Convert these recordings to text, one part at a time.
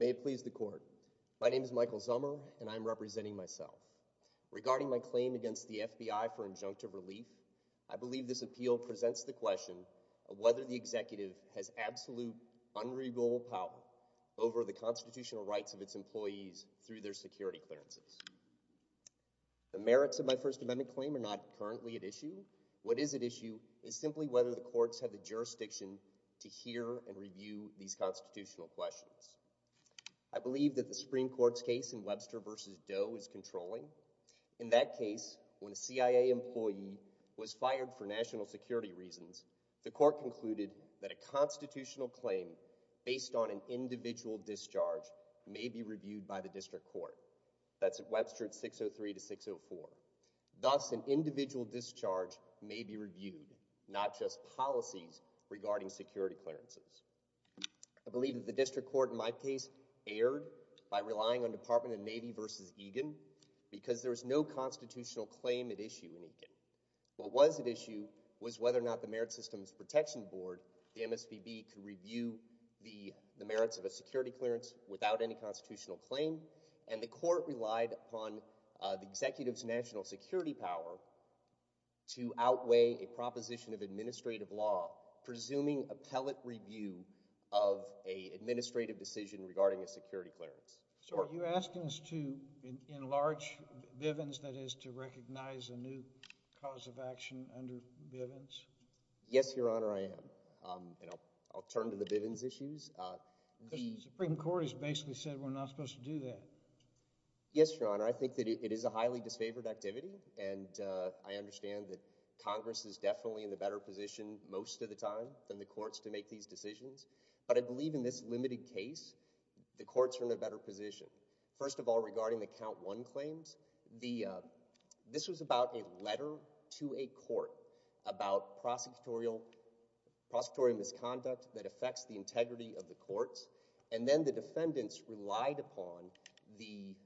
May it please the Court, my name is Michael Zummer and I am representing myself. Regarding my claim against the FBI for injunctive relief, I believe this appeal presents the question of whether the Executive has absolute, unregal power over the constitutional rights of its employees through their security clearances. The merits of my First Amendment claim are not currently at issue. What is at issue is simply whether the courts have the jurisdiction to hear and review these constitutional questions. I believe that the Supreme Court's case in Webster v. Doe is controlling. In that case, when a CIA employee was fired for national security reasons, the Court concluded that a constitutional claim based on an individual discharge may be reviewed by the District Court. That's Webster v. 603 to 604. Thus, an individual discharge may be reviewed, not just policies regarding security clearances. I believe that the District Court in my case erred by relying on Department of Navy v. Egan because there was no constitutional claim at issue in Egan. What was at issue was whether or not the Merit Systems Protection Board, the MSPB, could The Supreme Court relied upon the Executive's national security power to outweigh a proposition of administrative law presuming appellate review of an administrative decision regarding a security clearance. So are you asking us to enlarge Bivens, that is, to recognize a new cause of action under Bivens? Yes, Your Honor, I am, and I'll turn to the Bivens issues. Because the Supreme Court has basically said we're not supposed to do that. Yes, Your Honor, I think that it is a highly disfavored activity, and I understand that Congress is definitely in a better position most of the time than the courts to make these decisions, but I believe in this limited case, the courts are in a better position. First of all, regarding the Count One claims, this was about a letter to a court about prosecutorial misconduct that affects the integrity of the courts, and then the defendants relied upon the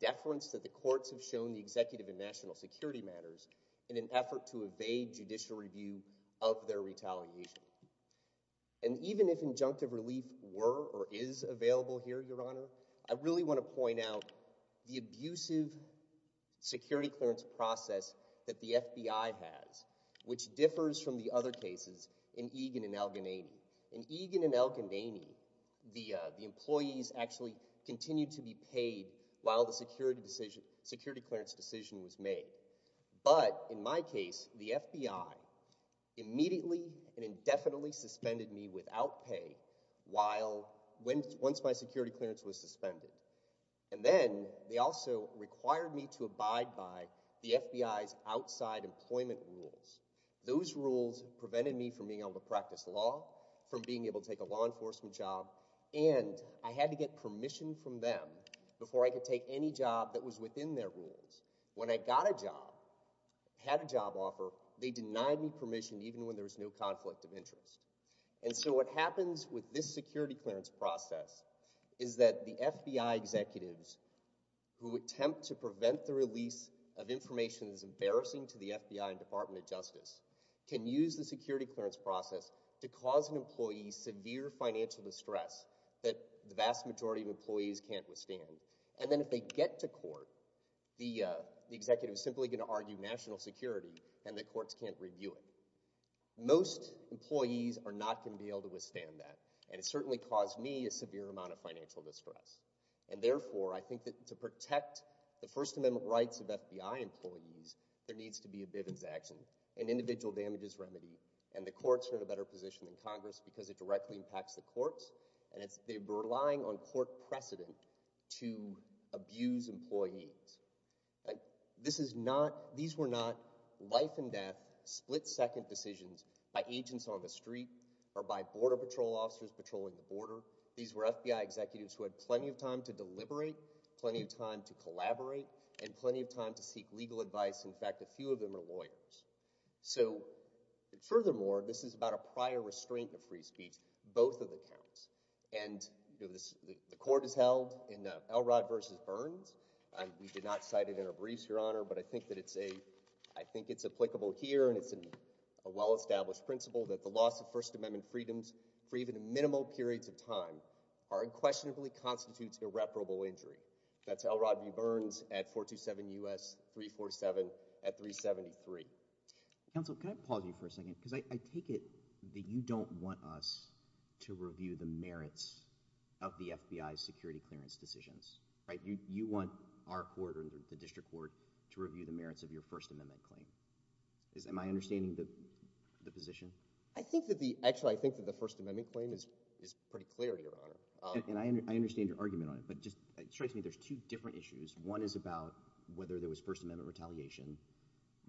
deference that the courts have shown the Executive in national security matters in an effort to evade judicial review of their retaliation. And even if injunctive relief were or is available here, Your Honor, I really want to point out the abusive security clearance process that the FBI has, which differs from the other cases in Egan and El-Ghannaini. In Egan and El-Ghannaini, the employees actually continued to be paid while the security clearance decision was made, but in my case, the FBI immediately and indefinitely suspended me without pay once my security clearance was suspended. And then they also required me to abide by the FBI's outside employment rules. Those rules prevented me from being able to practice law, from being able to take a law enforcement job, and I had to get permission from them before I could take any job that was within their rules. When I got a job, had a job offer, they denied me permission even when there was no conflict of interest. And so what happens with this security clearance process is that the FBI executives, who attempt to prevent the release of information that is embarrassing to the FBI and Department of Justice, can use the security clearance process to cause an employee severe financial distress that the vast majority of employees can't withstand. And then if they get to court, the executive is simply going to argue national security and the courts can't review it. Most employees are not going to be able to withstand that, and it certainly caused me a severe amount of financial distress. And therefore, I think that to protect the First Amendment rights of FBI employees, there needs to be a Bivens action, an individual damages remedy, and the courts are in a better position than Congress because it directly impacts the courts, and they were relying on court precedent to abuse employees. These were not life and death, split-second decisions by agents on the street or by Border Patrol officers patrolling the border. These were FBI executives who had plenty of time to deliberate, plenty of time to collaborate, and plenty of time to seek legal advice. In fact, a few of them are lawyers. So furthermore, this is about a prior restraint of free speech. Both of them count. And the court is held in Elrod v. Burns. We did not cite it in our briefs, Your Honor, but I think that it's a, I think it's applicable here and it's a well-established principle that the loss of First Amendment freedoms for even minimal periods of time are unquestionably constitutes irreparable injury. That's Elrod v. Burns at 427 U.S. 347 at 373. Counsel, can I pause you for a second because I take it that you don't want us to review the merits of the FBI's security clearance decisions, right? You want our court or the district court to review the merits of your First Amendment claim. Am I understanding the position? I think that the, actually, I think that the First Amendment claim is pretty clear, Your Honor. And I understand your argument on it, but it strikes me there's two different issues. One is about whether there was First Amendment retaliation.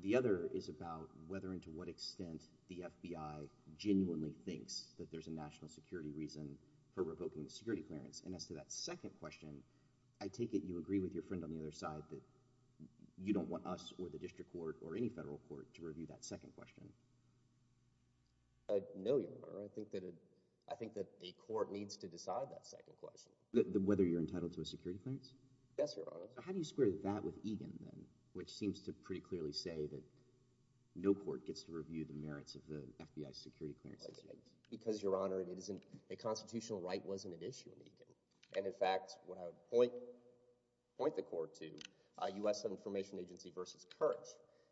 The other is about whether and to what extent the FBI genuinely thinks that there's a national security reason for revoking the security clearance. And as to that second question, I take it you agree with your friend on the other side that you don't want us or the district court or any federal court to review that second question. No, Your Honor. I think that a court needs to decide that second question. Whether you're entitled to a security clearance? Yes, Your Honor. How do you square that with Egan, then, which seems to pretty clearly say that no court gets to review the merits of the FBI's security clearance decisions? Because, Your Honor, a constitutional right wasn't an issue in Egan. And in fact, what I would point the court to, U.S. Information Agency versus Kirch,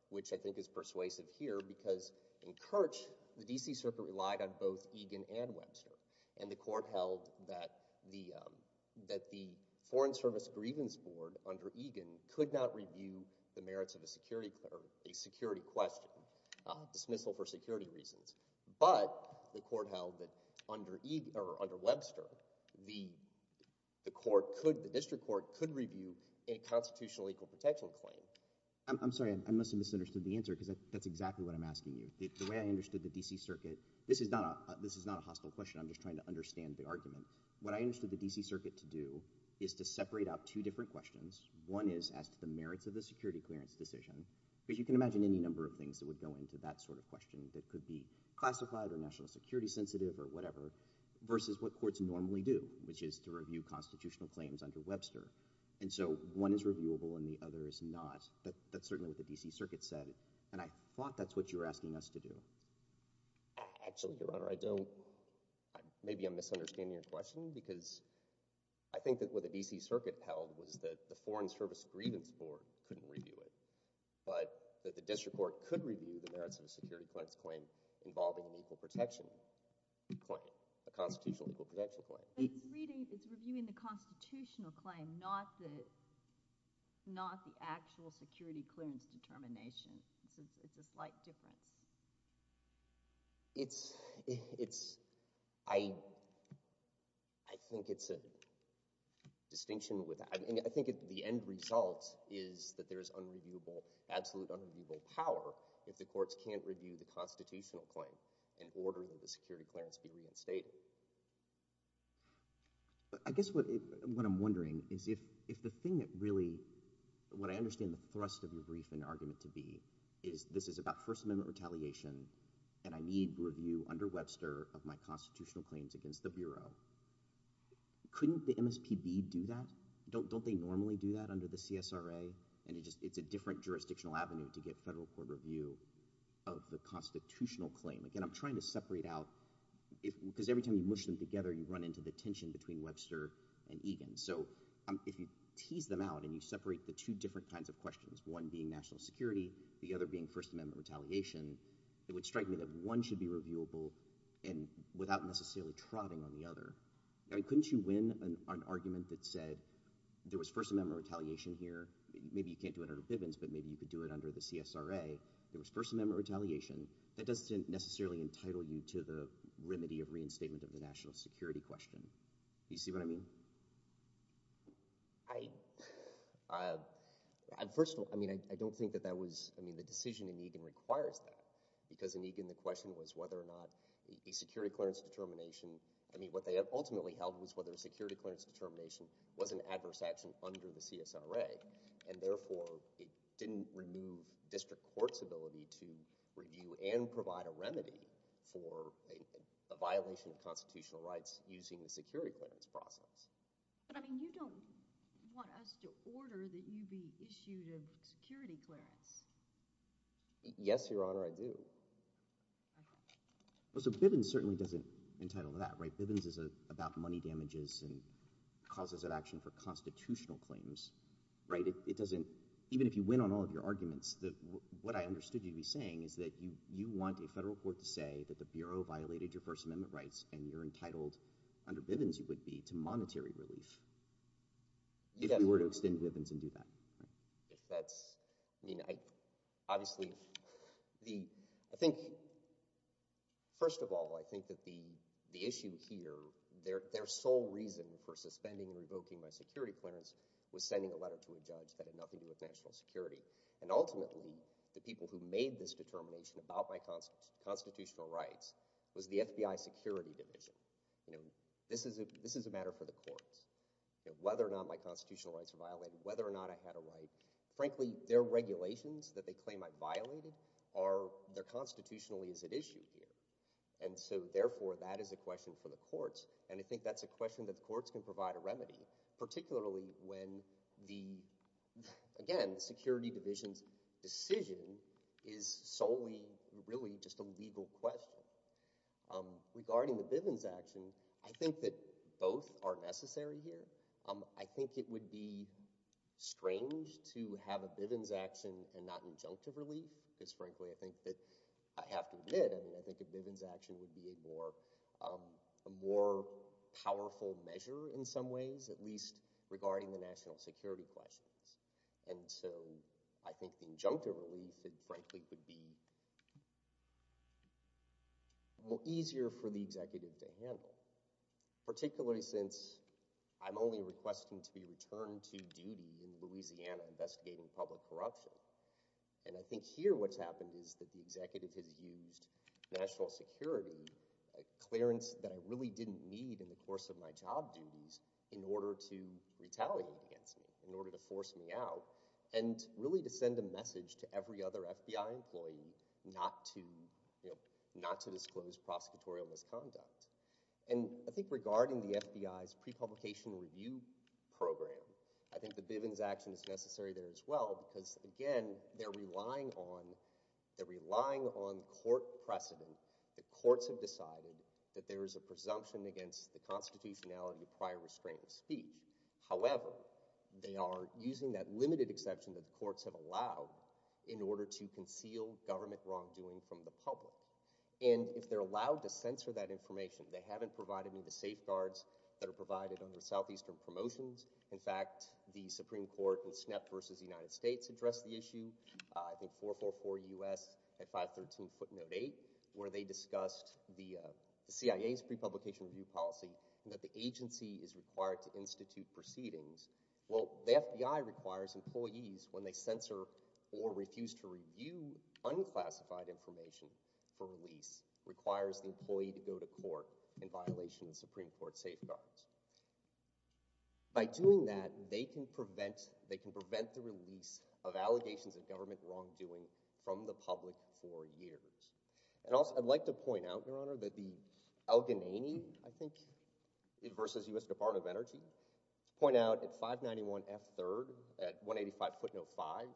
which I think is persuasive here because in Kirch, the D.C. Circuit relied on both Egan and Webster. And the court held that the Foreign Service Grievance Board under Egan could not review the merits of a security question, dismissal for security reasons. But the court held that under Webster, the district court could review a constitutional equal protection claim. I'm sorry. I must have misunderstood the answer because that's exactly what I'm asking you. The way I understood the D.C. Circuit, this is not a hostile question. I'm just trying to understand the argument. What I understood the D.C. Circuit to do is to separate out two different questions. One is as to the merits of the security clearance decision, because you can imagine any number of things that would go into that sort of question that could be classified or national security sensitive or whatever, versus what courts normally do, which is to review constitutional claims under Webster. And so one is reviewable and the other is not. That's certainly what the D.C. Circuit said, and I thought that's what you're asking us to do. Actually, Your Honor, I don't—maybe I'm misunderstanding your question because I think that what the D.C. Circuit held was that the Foreign Service Grievance Board couldn't review it, but that the district court could review the merits of a security clearance claim involving an equal protection claim, a constitutional equal protection claim. But it's reviewing the constitutional claim, not the actual security clearance determination. It's a slight difference. It's—I think it's a distinction with—I think the end result is that there is unreviewable—absolute unreviewable power if the courts can't review the constitutional claim in order that the security clearance be reinstated. I guess what I'm wondering is if the thing that really—what I understand the thrust of your brief and argument to be is this is about First Amendment retaliation and I need review under Webster of my constitutional claims against the Bureau, couldn't the MSPB do that? Don't they normally do that under the CSRA? And it's a different jurisdictional avenue to get federal court review of the constitutional claim. Again, I'm trying to separate out—because every time you mush them together, you run into the tension between Webster and Egan. So if you tease them out and you separate the two different kinds of questions, one being national security, the other being First Amendment retaliation, it would strike me that one should be reviewable and without necessarily trotting on the other. I mean, couldn't you win an argument that said there was First Amendment retaliation here—maybe you can't do it under Bivens, but maybe you could do it under the CSRA—there was First Amendment retaliation. That doesn't necessarily entitle you to the remedy of reinstatement of the national security question. Do you see what I mean? I—first of all, I mean, I don't think that that was—I mean, the decision in Egan requires that, because in Egan the question was whether or not a security clearance determination—I mean, what they ultimately held was whether a security clearance determination was an adverse action under the CSRA, and therefore it didn't remove district court's ability to review and provide a remedy for a violation of constitutional rights using the security clearance process. But, I mean, you don't want us to order that you be issued a security clearance. Yes, Your Honor, I do. Well, so Bivens certainly doesn't entitle that, right? Bivens is about money damages and causes of action for constitutional claims, right? It doesn't—even if you win on all of your arguments, what I understood you to be saying is that you want a federal court to say that the Bureau violated your First Amendment rights and you're entitled, under Bivens you would be, to monetary relief, if we were to extend Bivens and do that, right? If that's—I mean, I—obviously, the—I think—first of all, I think that the issue here, their sole reason for suspending and revoking my security clearance was sending a letter to a judge that had nothing to do with national security. And ultimately, the people who made this determination about my constitutional rights was the FBI Security Division. You know, this is a matter for the courts. Whether or not my constitutional rights are violated, whether or not I had a right, frankly, their regulations that they claim I violated are—they're constitutionally is at issue here. And so, therefore, that is a question for the courts, and I think that's a question that the courts can provide a remedy, particularly when the—again, the Security Division's decision is solely, really, just a legal question. Regarding the Bivens action, I think that both are necessary here. I think it would be strange to have a Bivens action and not injunctive relief, because, frankly, I think that—I have to admit, I mean, I think a Bivens action would be a more—a more powerful measure in some ways, at least regarding the national security questions. And so, I think the injunctive relief, frankly, would be easier for the executive to handle, particularly since I'm only requesting to be returned to duty in Louisiana investigating public corruption. And I think here what's happened is that the executive has used national security, a clearance that I really didn't need in the course of my job duties, in order to retaliate against me, in order to force me out, and really to send a message to every other FBI employee not to, you know, not to disclose prosecutorial misconduct. And I think regarding the FBI's pre-publication review program, I think the Bivens action is necessary there as well, because, again, they're relying on—they're relying on a court precedent. The courts have decided that there is a presumption against the constitutionality of prior restraining speech. However, they are using that limited exception that the courts have allowed in order to conceal government wrongdoing from the public. And if they're allowed to censor that information, they haven't provided me the safeguards that are provided under Southeastern Promotions. In fact, the Supreme Court in SNEP versus the United States addressed the issue. I think 444 U.S. at 513 footnote 8, where they discussed the CIA's pre-publication review policy, and that the agency is required to institute proceedings. Well, the FBI requires employees, when they censor or refuse to review unclassified information for release, requires the employee to go to court in violation of Supreme Court safeguards. By doing that, they can prevent—they can prevent the release of allegations of government wrongdoing from the public for years. And also, I'd like to point out, Your Honor, that the Al-Qanani, I think, versus U.S. Department of Energy, point out at 591 F3rd at 185 footnote 5,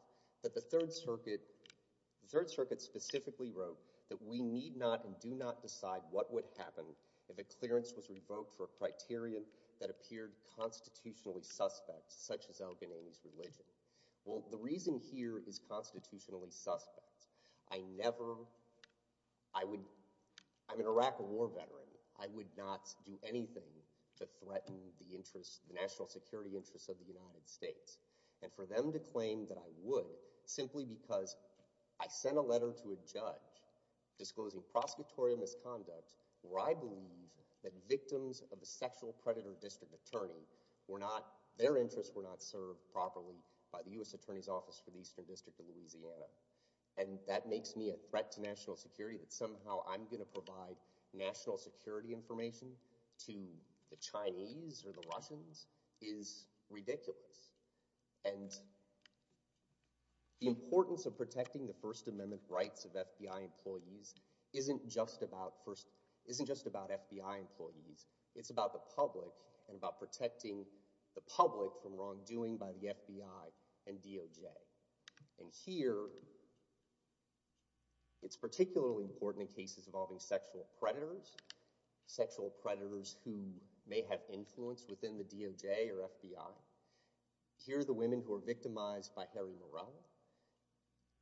that the Third Circuit—the Third Circuit specifically wrote that we need not and do not decide what would happen if a clearance was revoked for a criterion that appeared constitutionally suspect, such as Al-Qanani's religion. Well, the reason here is constitutionally suspect. I never—I would—I'm an Iraq War veteran. I would not do anything to threaten the interests—the national security interests of the United States. And for them to claim that I would, simply because I sent a letter to a judge disclosing prosecutorial misconduct, where I believe that victims of a sexual predator district attorney were not—their interests were not served properly by the U.S. Attorney's Office for the Eastern District of Louisiana. And that makes me a threat to national security, that somehow I'm going to provide national security information to the Chinese or the Russians, is ridiculous. And the importance of protecting the First Amendment rights of FBI employees isn't just about—isn't just about FBI employees. It's about the public and about protecting the public from wrongdoing by the FBI and DOJ. And here, it's particularly important in cases involving sexual predators, sexual predators who may have influence within the DOJ or FBI. Here the women who were victimized by Harry Morel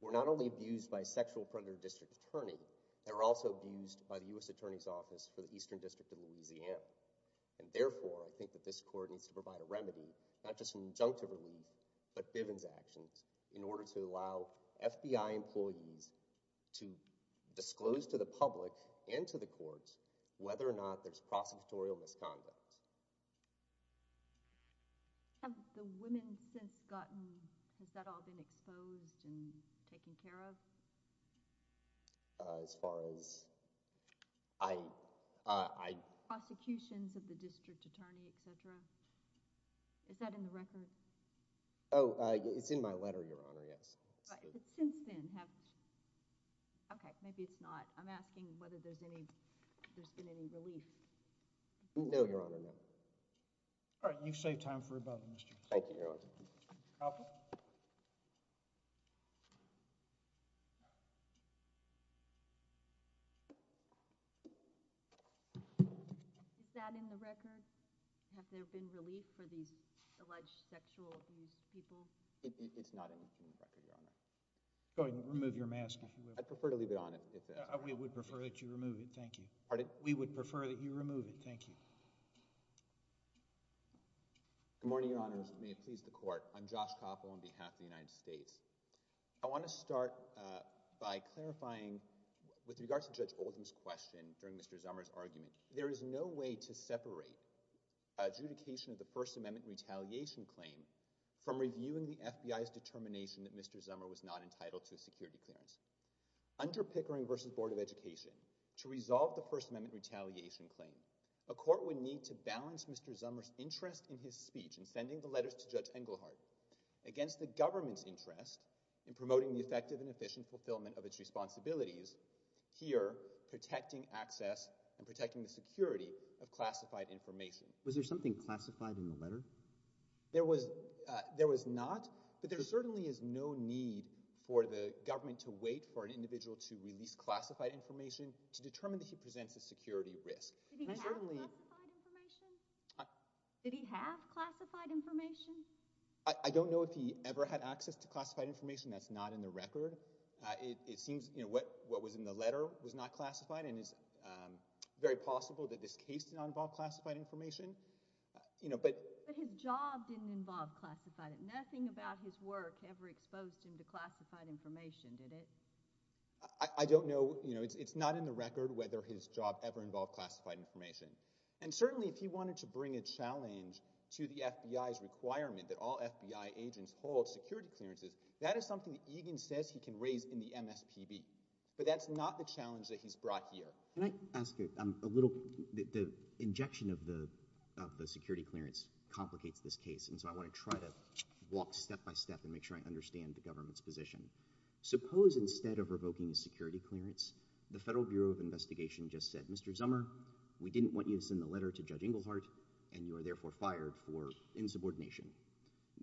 were not only abused by a sexual predator district attorney, they were also abused by the U.S. Attorney's Office for the Eastern District of Louisiana. And therefore, I think that this court needs to provide a remedy, not just an injunctive relief, but Bivens actions, in order to allow FBI employees to disclose to the public and to the courts whether or not there's prosecutorial misconduct. Have the women since gotten—has that all been exposed and taken care of? As far as I— Prosecutions of the district attorney, etc.? Is that in the record? Oh, it's in my letter, Your Honor, yes. Right, but since then, have—okay, maybe it's not. I'm asking whether there's any—there's been any relief. No, Your Honor, no. All right, you've saved time for about a minute. Thank you, Your Honor. Counsel? Is that in the record? Have there been relief for these alleged sexual abuse people? It's not in the record, Your Honor. Go ahead and remove your mask, if you will. I'd prefer to leave it on if— We would prefer that you remove it. Thank you. Pardon? We would prefer that you remove it. Thank you. Good morning, Your Honors. May it please the Court. I'm Josh Koppel on behalf of the United States. I want to start by clarifying, with regards to Judge Oldham's question during Mr. Zummer's argument, there is no way to separate adjudication of the First Amendment retaliation claim from reviewing the FBI's determination that Mr. Zummer was not entitled to a security clearance. Under Pickering v. Board of Education, to resolve the First Amendment retaliation claim, a court would need to balance Mr. Zummer's interest in his speech in sending the letters to Judge Englehardt against the government's interest in promoting the effective and efficient fulfillment of its responsibilities here, protecting access and protecting the security Was there something classified in the letter? There was not, but there certainly is no need for the government to wait for an individual to release classified information to determine that he presents a security risk. Did he have classified information? Did he have classified information? I don't know if he ever had access to classified information. That's not in the record. It seems what was in the letter was not classified, and it's very possible that this case did not involve classified information. But his job didn't involve classified information. Nothing about his work ever exposed him to classified information, did it? I don't know. It's not in the record whether his job ever involved classified information. And certainly if he wanted to bring a challenge to the FBI's requirement that all FBI agents hold security clearances, that is something that Egan says he can raise in the MSPB. But that's not the challenge that he's brought here. Can I ask a little? The injection of the security clearance complicates this case, and so I want to try to walk step by step and make sure I understand the government's position. Suppose instead of revoking a security clearance, the Federal Bureau of Investigation just said, Mr. Zummer, we didn't want you to send the letter to Judge Inglehart, and you are therefore fired for insubordination.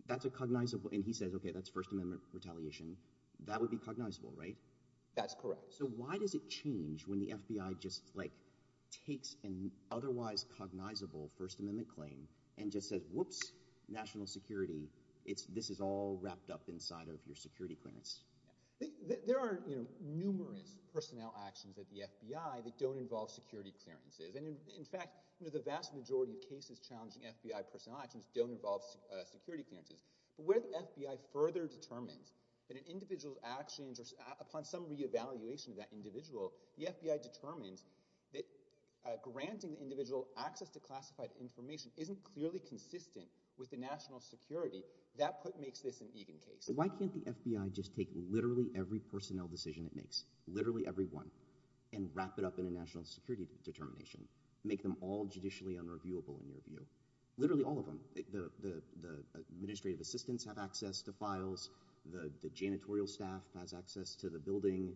That's a cognizable—and he says, okay, that's First Amendment retaliation. That would be cognizable, right? That's correct. So why does it change when the FBI just takes an otherwise cognizable First Amendment claim and just says, whoops, national security. This is all wrapped up inside of your security clearance. There are numerous personnel actions at the FBI that don't involve security clearances. And in fact, the vast majority of cases challenging FBI personnel actions don't involve security clearances. But where the FBI further determines that an individual's actions or upon some reevaluation of that individual, the FBI determines that granting the individual access to classified information isn't clearly consistent with the national security, that makes this an Egan case. Why can't the FBI just take literally every personnel decision it makes, literally every one, and wrap it up in a national security determination, make them all judicially unreviewable in your view? Literally all of them. The administrative assistants have access to files. The janitorial staff has access to the building.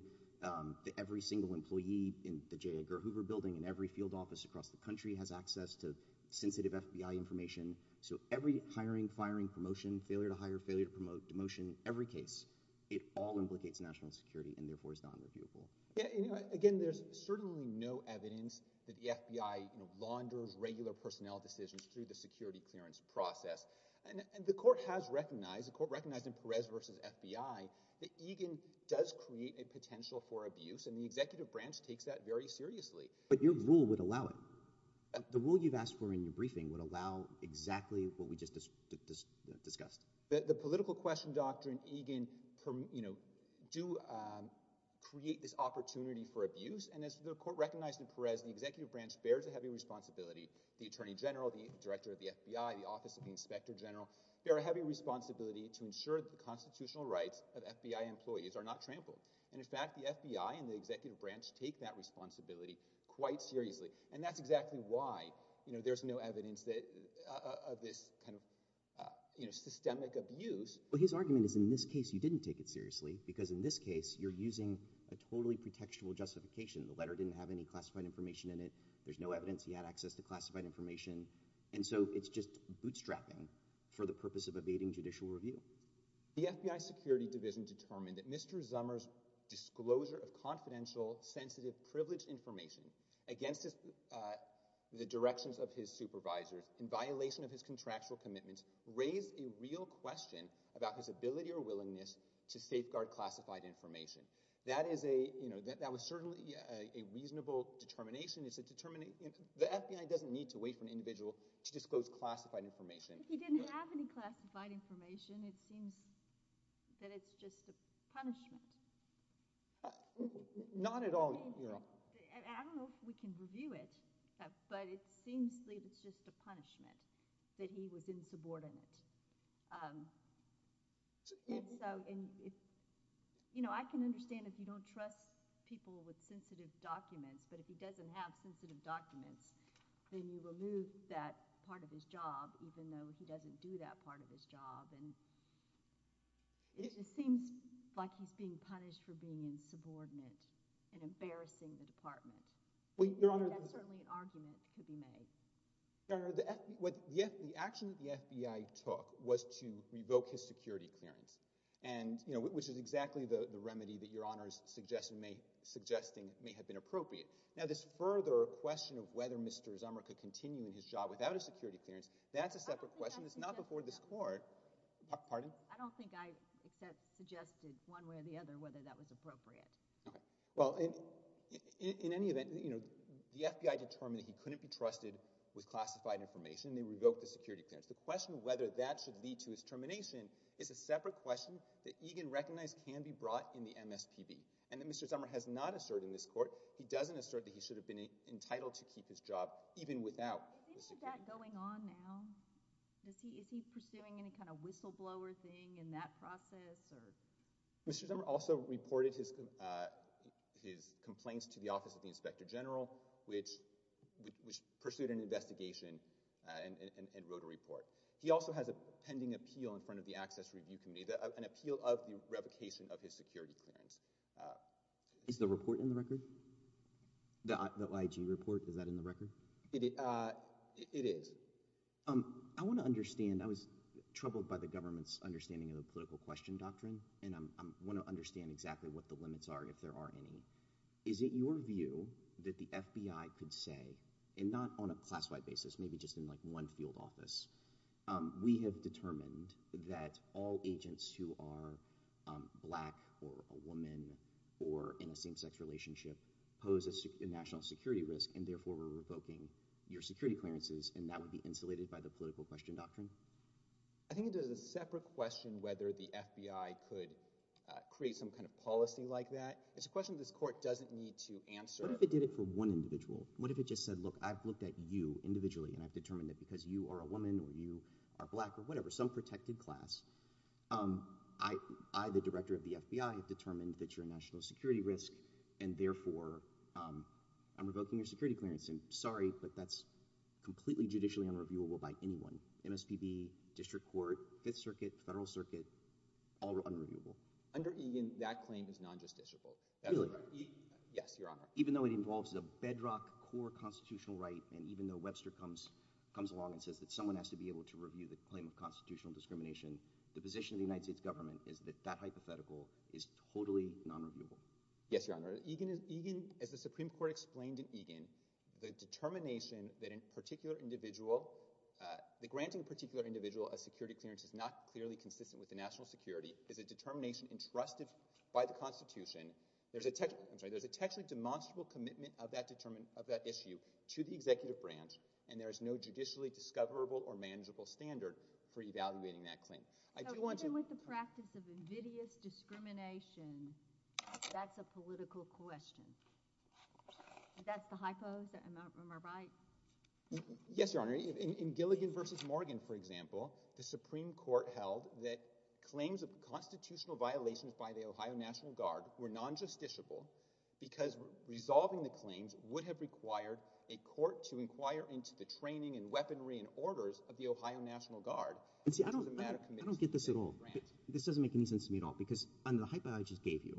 Every single employee in the J. Edgar Hoover building and every field office across the country has access to sensitive FBI information. So every hiring, firing, promotion, failure to hire, failure to promote, demotion, every case, it all implicates national security and therefore is not unreviewable. Again, there's certainly no evidence that the FBI launders regular personnel decisions through the security clearance process. And the court has recognized, the court recognized in Perez v. FBI, that Egan does create a potential for abuse and the executive branch takes that very seriously. But your rule would allow it. The rule you've asked for in your briefing would allow exactly what we just discussed. The political question doctrine, Egan, you know, do create this opportunity for abuse and as the court recognized in Perez, the executive branch bears a heavy responsibility. The attorney general, the director of the FBI, the office of the inspector general bear a heavy responsibility to ensure that the constitutional rights of FBI employees are not trampled. And in fact, the FBI and the executive branch take that responsibility quite seriously. And that's exactly why, you know, there's no evidence that, of this kind of, you know, systemic abuse. Well, his argument is in this case you didn't take it seriously because in this case you're using a totally pretextual justification. The letter didn't have any classified information in it. There's no evidence. He had access to classified information. And so it's just bootstrapping for the purpose of evading judicial review. The FBI security division determined that Mr. Zummer's disclosure of confidential, sensitive, privileged information against the directions of his supervisors in violation of his contractual commitments raised a real question about his ability or willingness to safeguard classified information. That is a, you know, that was certainly a reasonable determination. The FBI doesn't need to wait for an individual to disclose classified information. If he didn't have any classified information, it seems that it's just a punishment. Not at all, you know. I don't know if we can review it, but it seems like it's just a punishment that he was insubordinate. And so, you know, I can understand if you don't trust people with sensitive documents, but if he doesn't have sensitive documents, then you remove that part of his job, even though he doesn't do that part of his job. And it just seems like he's being punished for being insubordinate and embarrassing the department. That's certainly an argument that could be made. Your Honor, the action that the FBI took was to revoke his security clearance, which is Now, this further question of whether Mr. Zummer could continue in his job without a security clearance, that's a separate question. It's not before this Court. Pardon? I don't think I suggested one way or the other whether that was appropriate. Okay. Well, in any event, you know, the FBI determined that he couldn't be trusted with classified information, and they revoked the security clearance. The question of whether that should lead to his termination is a separate question that Egan recognized can be brought in the MSPB, and that Mr. Zummer has not asserted in this case that he should have been entitled to keep his job even without the security clearance. Is any of that going on now? Is he pursuing any kind of whistleblower thing in that process? Mr. Zummer also reported his complaints to the Office of the Inspector General, which pursued an investigation and wrote a report. He also has a pending appeal in front of the Access Review Committee, an appeal of the revocation of his security clearance. Is the report in the record? The IG report, is that in the record? It is. I want to understand, I was troubled by the government's understanding of the political question doctrine, and I want to understand exactly what the limits are, if there are any. Is it your view that the FBI could say, and not on a class-wide basis, maybe just in like We have determined that all agents who are black or a woman or in a same-sex relationship pose a national security risk, and therefore we're revoking your security clearances, and that would be insulated by the political question doctrine? I think it is a separate question whether the FBI could create some kind of policy like that. It's a question this court doesn't need to answer. What if it did it for one individual? What if it just said, look, I've looked at you individually, and I've determined that because you are a woman or you are black or whatever, some protected class, I, the director of the FBI, have determined that you're a national security risk, and therefore I'm revoking your security clearance, and sorry, but that's completely judicially unreviewable by anyone. MSPB, district court, Fifth Circuit, Federal Circuit, all are unreviewable. Under Egan, that claim is non-justiciable. Really? Yes, Your Honor. Even though it involves a bedrock core constitutional right, and even though Webster comes along and says that someone has to be able to review the claim of constitutional discrimination, the position of the United States government is that that hypothetical is totally non-reviewable. Yes, Your Honor. Egan, as the Supreme Court explained in Egan, the determination that in a particular individual, the granting of a particular individual a security clearance is not clearly consistent with the national security is a determination entrusted by the Constitution. There's a, I'm sorry, there's a textually demonstrable commitment of that issue to the executive branch, and there is no judicially discoverable or manageable standard for evaluating that claim. Even with the practice of invidious discrimination, that's a political question. That's the hypo, am I right? Yes, Your Honor. In Gilligan v. Morgan, for example, the Supreme Court held that claims of constitutional violations by the Ohio National Guard were non-justiciable because resolving the claims would have required a court to inquire into the training and weaponry and orders of the Ohio National Guard. And see, I don't get this at all. This doesn't make any sense to me at all, because under the hypo I just gave you,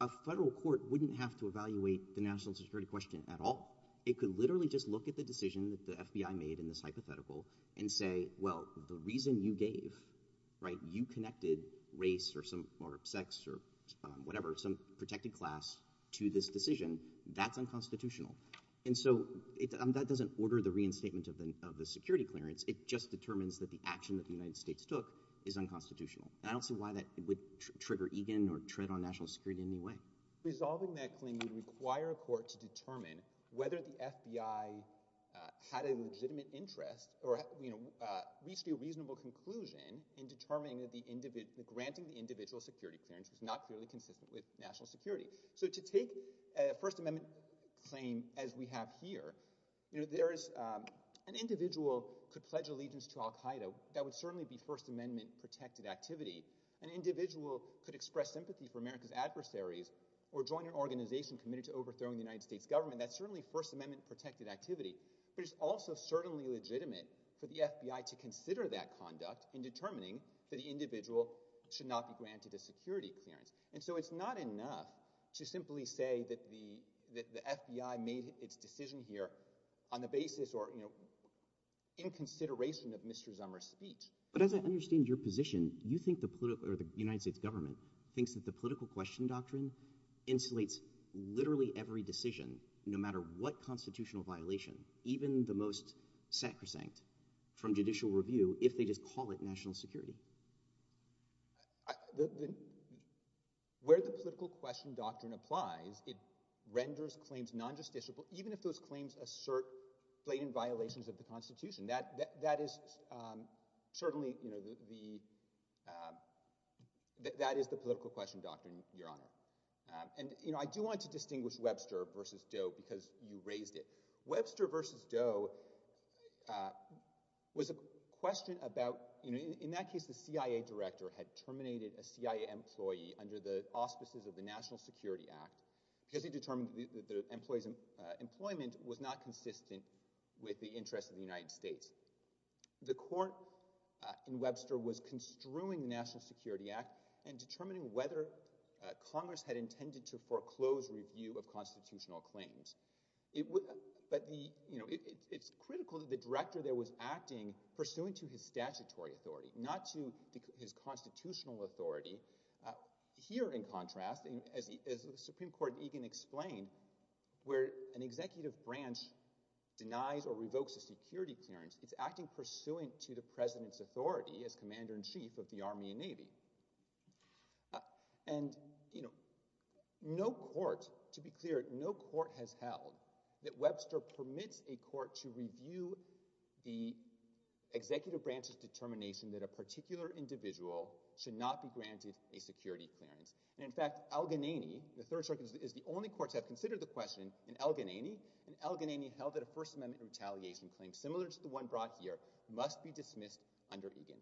a federal court wouldn't have to evaluate the national security question at all. It could literally just look at the decision that the FBI made in this hypothetical and say, well, the reason you gave, right, you connected race or sex or whatever, some protected class to this decision, that's unconstitutional. And so that doesn't order the reinstatement of the security clearance, it just determines that the action that the United States took is unconstitutional. And I don't see why that would trigger Egan or tread on national security in any way. Resolving that claim would require a court to determine whether the FBI had a legitimate interest or reached a reasonable conclusion in determining that granting the individual security clearance was not clearly consistent with national security. So to take a First Amendment claim as we have here, an individual could pledge allegiance to Al-Qaeda, that would certainly be First Amendment protected activity. An individual could express sympathy for America's adversaries or join an organization committed to overthrowing the United States government, that's certainly First Amendment protected activity. But it's also certainly legitimate for the FBI to consider that conduct in determining that the individual should not be granted a security clearance. And so it's not enough to simply say that the FBI made its decision here on the basis or in consideration of Mr. Zummer's speech. But as I understand your position, you think the United States government thinks that the political question doctrine insulates literally every decision, no matter what constitutional violation, even the most sacrosanct from judicial review, if they just call it national security. Where the political question doctrine applies, it renders claims non-justiciable, even if those claims assert blatant violations of the Constitution. That is certainly the political question doctrine, Your Honor. And I do want to distinguish Webster v. Doe because you raised it. Webster v. Doe was a question about, in that case, the CIA director had terminated a CIA employee under the auspices of the National Security Act because he determined that the employee's employment was not consistent with the interests of the United States. The court in Webster was construing the National Security Act and determining whether Congress had intended to foreclose review of constitutional claims. But it's critical that the director there was acting pursuant to his statutory authority, not to his constitutional authority. Here, in contrast, as the Supreme Court in Egan explained, where an executive branch denies or revokes a security clearance, it's acting pursuant to the president's authority as commander-in-chief of the Army and Navy. And, you know, no court, to be clear, no court has held that Webster permits a court to review the executive branch's determination that a particular individual should not be granted a security clearance. And, in fact, Al-Ghannaini, the third circuit, is the only court to have considered the question in Al-Ghannaini. And Al-Ghannaini held that a First Amendment retaliation claim, similar to the one brought here, must be dismissed under Egan.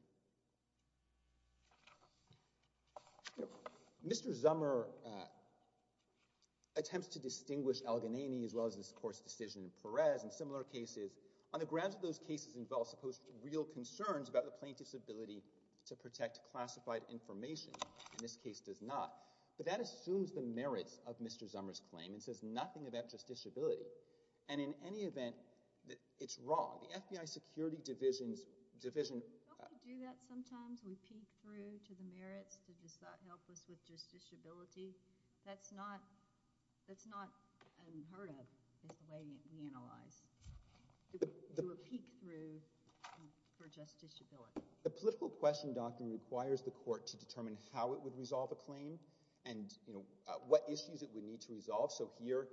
Mr. Zummer attempts to distinguish Al-Ghannaini as well as this court's decision in Perez and similar cases on the grounds that those cases involve supposed real concerns about the plaintiff's ability to protect classified information. And this case does not. But that assumes the merits of Mr. Zummer's claim. It says nothing about justiciability. And in any event, it's wrong. The FBI Security Division's division… Don't we do that sometimes? We peek through to the merits to help us with justiciability? That's not unheard of is the way we analyze. We peek through for justiciability. The political question doctrine requires the court to determine how it would resolve a claim and what issues it would need to resolve. So here,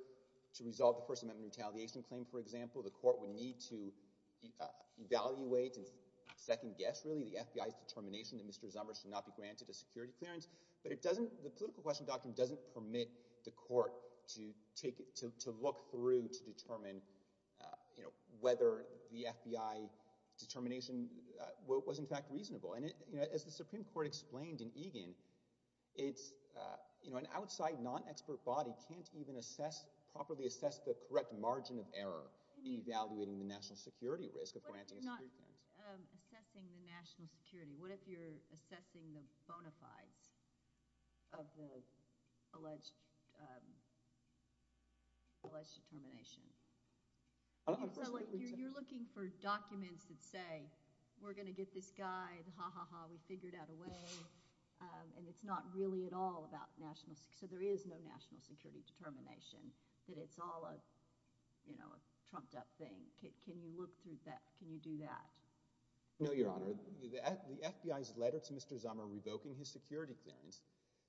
to resolve the First Amendment retaliation claim, for example, the court would need to evaluate and second-guess, really, the FBI's determination that Mr. Zummer should not be granted a security clearance. But the political question doctrine doesn't permit the court to look through to determine whether the FBI determination was, in fact, reasonable. And as the Supreme Court explained in Egan, an outside, non-expert body can't even properly assess the correct margin of error in evaluating the national security risk of granting a security clearance. What if you're not assessing the national security? What if you're assessing the bona fides of the alleged determination? You're looking for documents that say, we're going to get this guy. Ha, ha, ha. We figured out a way. And it's not really at all about national security. So there is no national security determination that it's all a trumped-up thing. Can you look through that? Can you do that? No, Your Honor. The FBI's letter to Mr. Zummer revoking his security clearance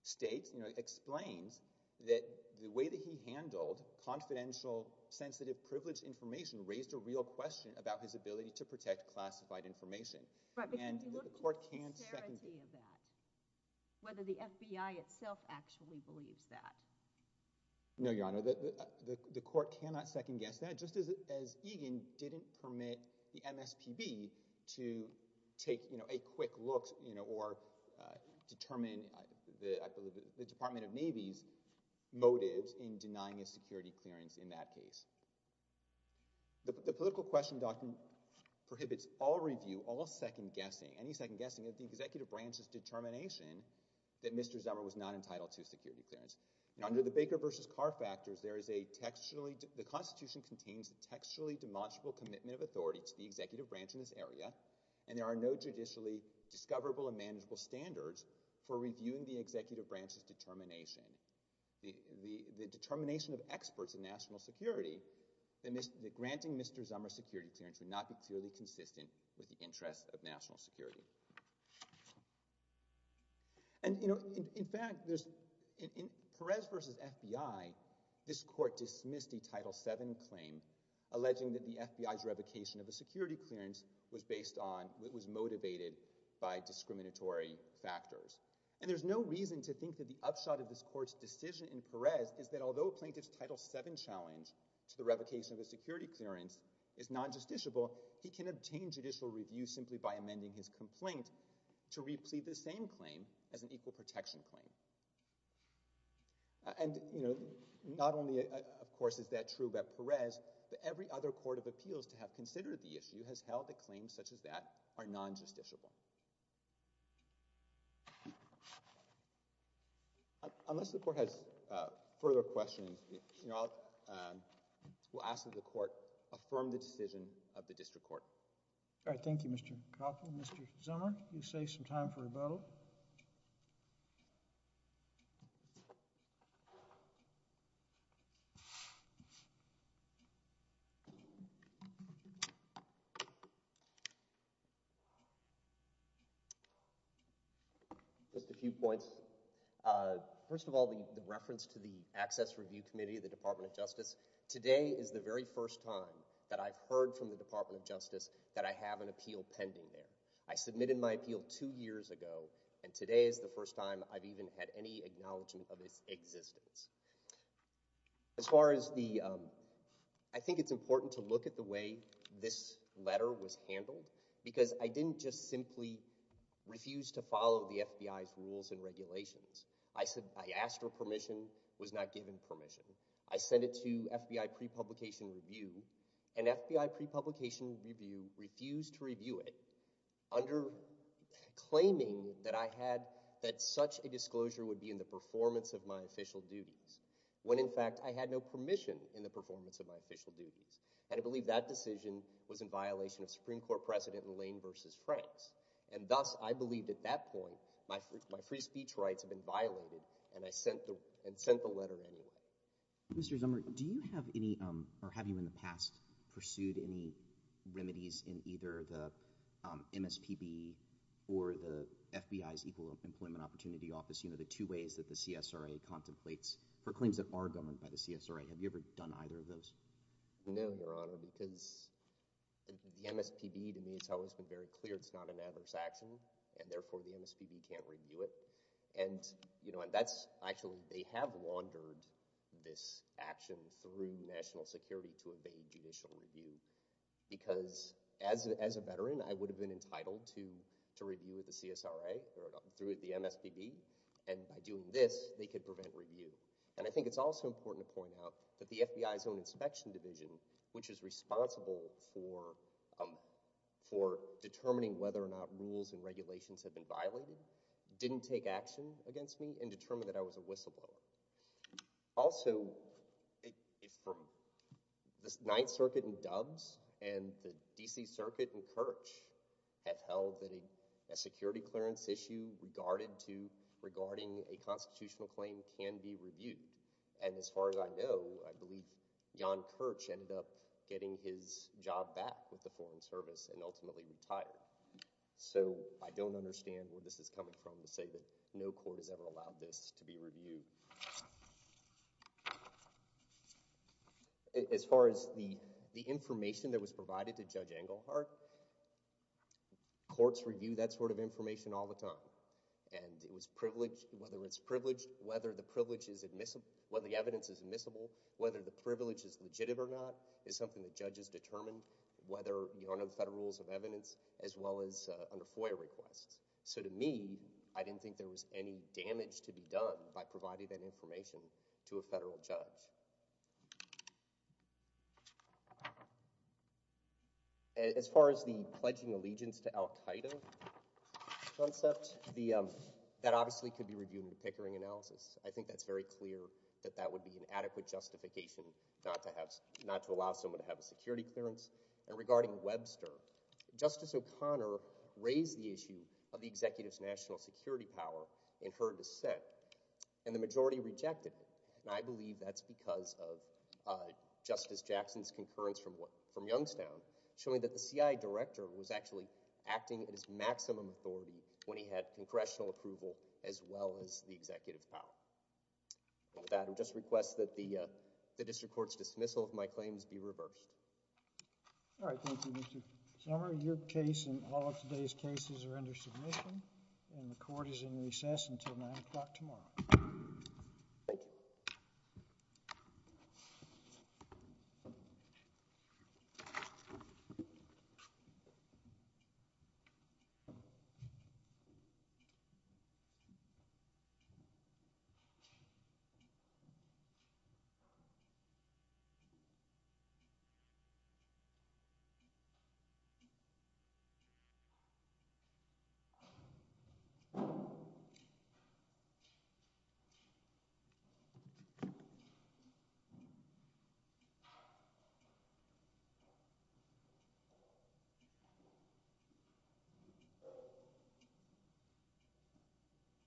states, explains that the way that he handled confidential, sensitive, privileged information raised a real question about his ability to protect classified information. And the court can't second-guess. But can you look to the sincerity of that? Whether the FBI itself actually believes that? No, Your Honor. The court cannot second-guess that. Just as Egan didn't permit the MSPB to take a quick look or determine the Department of Navy's motives in denying a security clearance in that case. The political question doctrine prohibits all review, all second-guessing, any second-guessing of the executive branch's determination that Mr. Zummer was not entitled to security clearance. Under the Baker v. Carr factors, the Constitution contains a textually demonstrable commitment of authority to the executive branch in this area, and there are no judicially discoverable and manageable standards for reviewing the executive branch's determination. The determination of experts in national security that granting Mr. Zummer security clearance would not be clearly consistent with the interests of national security. And, you know, in fact, in Perez v. FBI, this court dismissed a Title VII claim alleging that the FBI's revocation of a security clearance was motivated by discriminatory factors. And there's no reason to think that the upshot of this court's decision in Perez is that although a plaintiff's Title VII challenge to the revocation of a security clearance is non-justiciable, he can obtain judicial review simply by amending his complaint to replead the same claim as an equal protection claim. And, you know, not only, of course, is that true about Perez, but every other court of appeals to have considered the issue has held that claims such as that are non-justiciable. Unless the court has further questions, you know, I'll ask that the court affirm the decision of the district court. All right. Thank you, Mr. Coughlin. Mr. Zummer, you save some time for rebuttal. Just a few points. First of all, the reference to the Access Review Committee of the Department of Justice. Today is the very first time that I've heard from the Department of Justice that I have an appeal pending there. I submitted my appeal two years ago, and today is the first time I've even had any acknowledgement of its existence. As far as the – I think it's important to look at the way this letter was handled, because I didn't just simply refuse to follow the FBI's rules and regulations. I asked for permission, was not given permission. I sent it to FBI pre-publication review, and FBI pre-publication review refused to review it under claiming that I had – that such a disclosure would be in the performance of my official duties, when in fact I had no permission in the performance of my official duties. And I believe that decision was in violation of Supreme Court precedent in Lane v. Franks. And thus, I believed at that point my free speech rights had been violated, and I sent the letter anyway. Mr. Zummer, do you have any – or have you in the past pursued any remedies in either the MSPB or the FBI's Equal Employment Opportunity Office, the two ways that the CSRA contemplates for claims that are governed by the CSRA? No, Your Honor, because the MSPB, to me, it's always been very clear it's not an adverse action, and therefore the MSPB can't review it. And that's – actually, they have laundered this action through national security to evade judicial review, because as a veteran, I would have been entitled to review with the CSRA or through the MSPB. And by doing this, they could prevent review. And I think it's also important to point out that the FBI's own inspection division, which is responsible for determining whether or not rules and regulations have been violated, didn't take action against me and determined that I was a whistleblower. Also, the Ninth Circuit and Dubs and the D.C. Circuit and Kirch have held that a security clearance issue regarding a constitutional claim can be reviewed. And as far as I know, I believe John Kirch ended up getting his job back with the Foreign Service and ultimately retired. So I don't understand where this is coming from to say that no court has ever allowed this to be reviewed. As far as the information that was provided to Judge Engelhardt, courts review that sort of information all the time. And whether it's privileged, whether the evidence is admissible, whether the privilege is legitimate or not is something that judges determine whether under the Federal Rules of Evidence as well as under FOIA requests. So to me, I didn't think there was any damage to be done by providing that information to a federal judge. As far as the pledging allegiance to Al-Qaeda concept, that obviously could be reviewed in a Pickering analysis. I think that's very clear that that would be an adequate justification not to allow someone to have a security clearance. And regarding Webster, Justice O'Connor raised the issue of the executive's national security power in her dissent. And the majority rejected it. And I believe that's because of Justice Jackson's concurrence from Youngstown showing that the CIA director was actually acting at his maximum authority when he had congressional approval as well as the executive's power. With that, I would just request that the district court's dismissal of my claims be reversed. All right. Thank you, Mr. Sumner. Your case and all of today's cases are under submission, and the court is in recess until 9 o'clock tomorrow. Thank you. Thank you.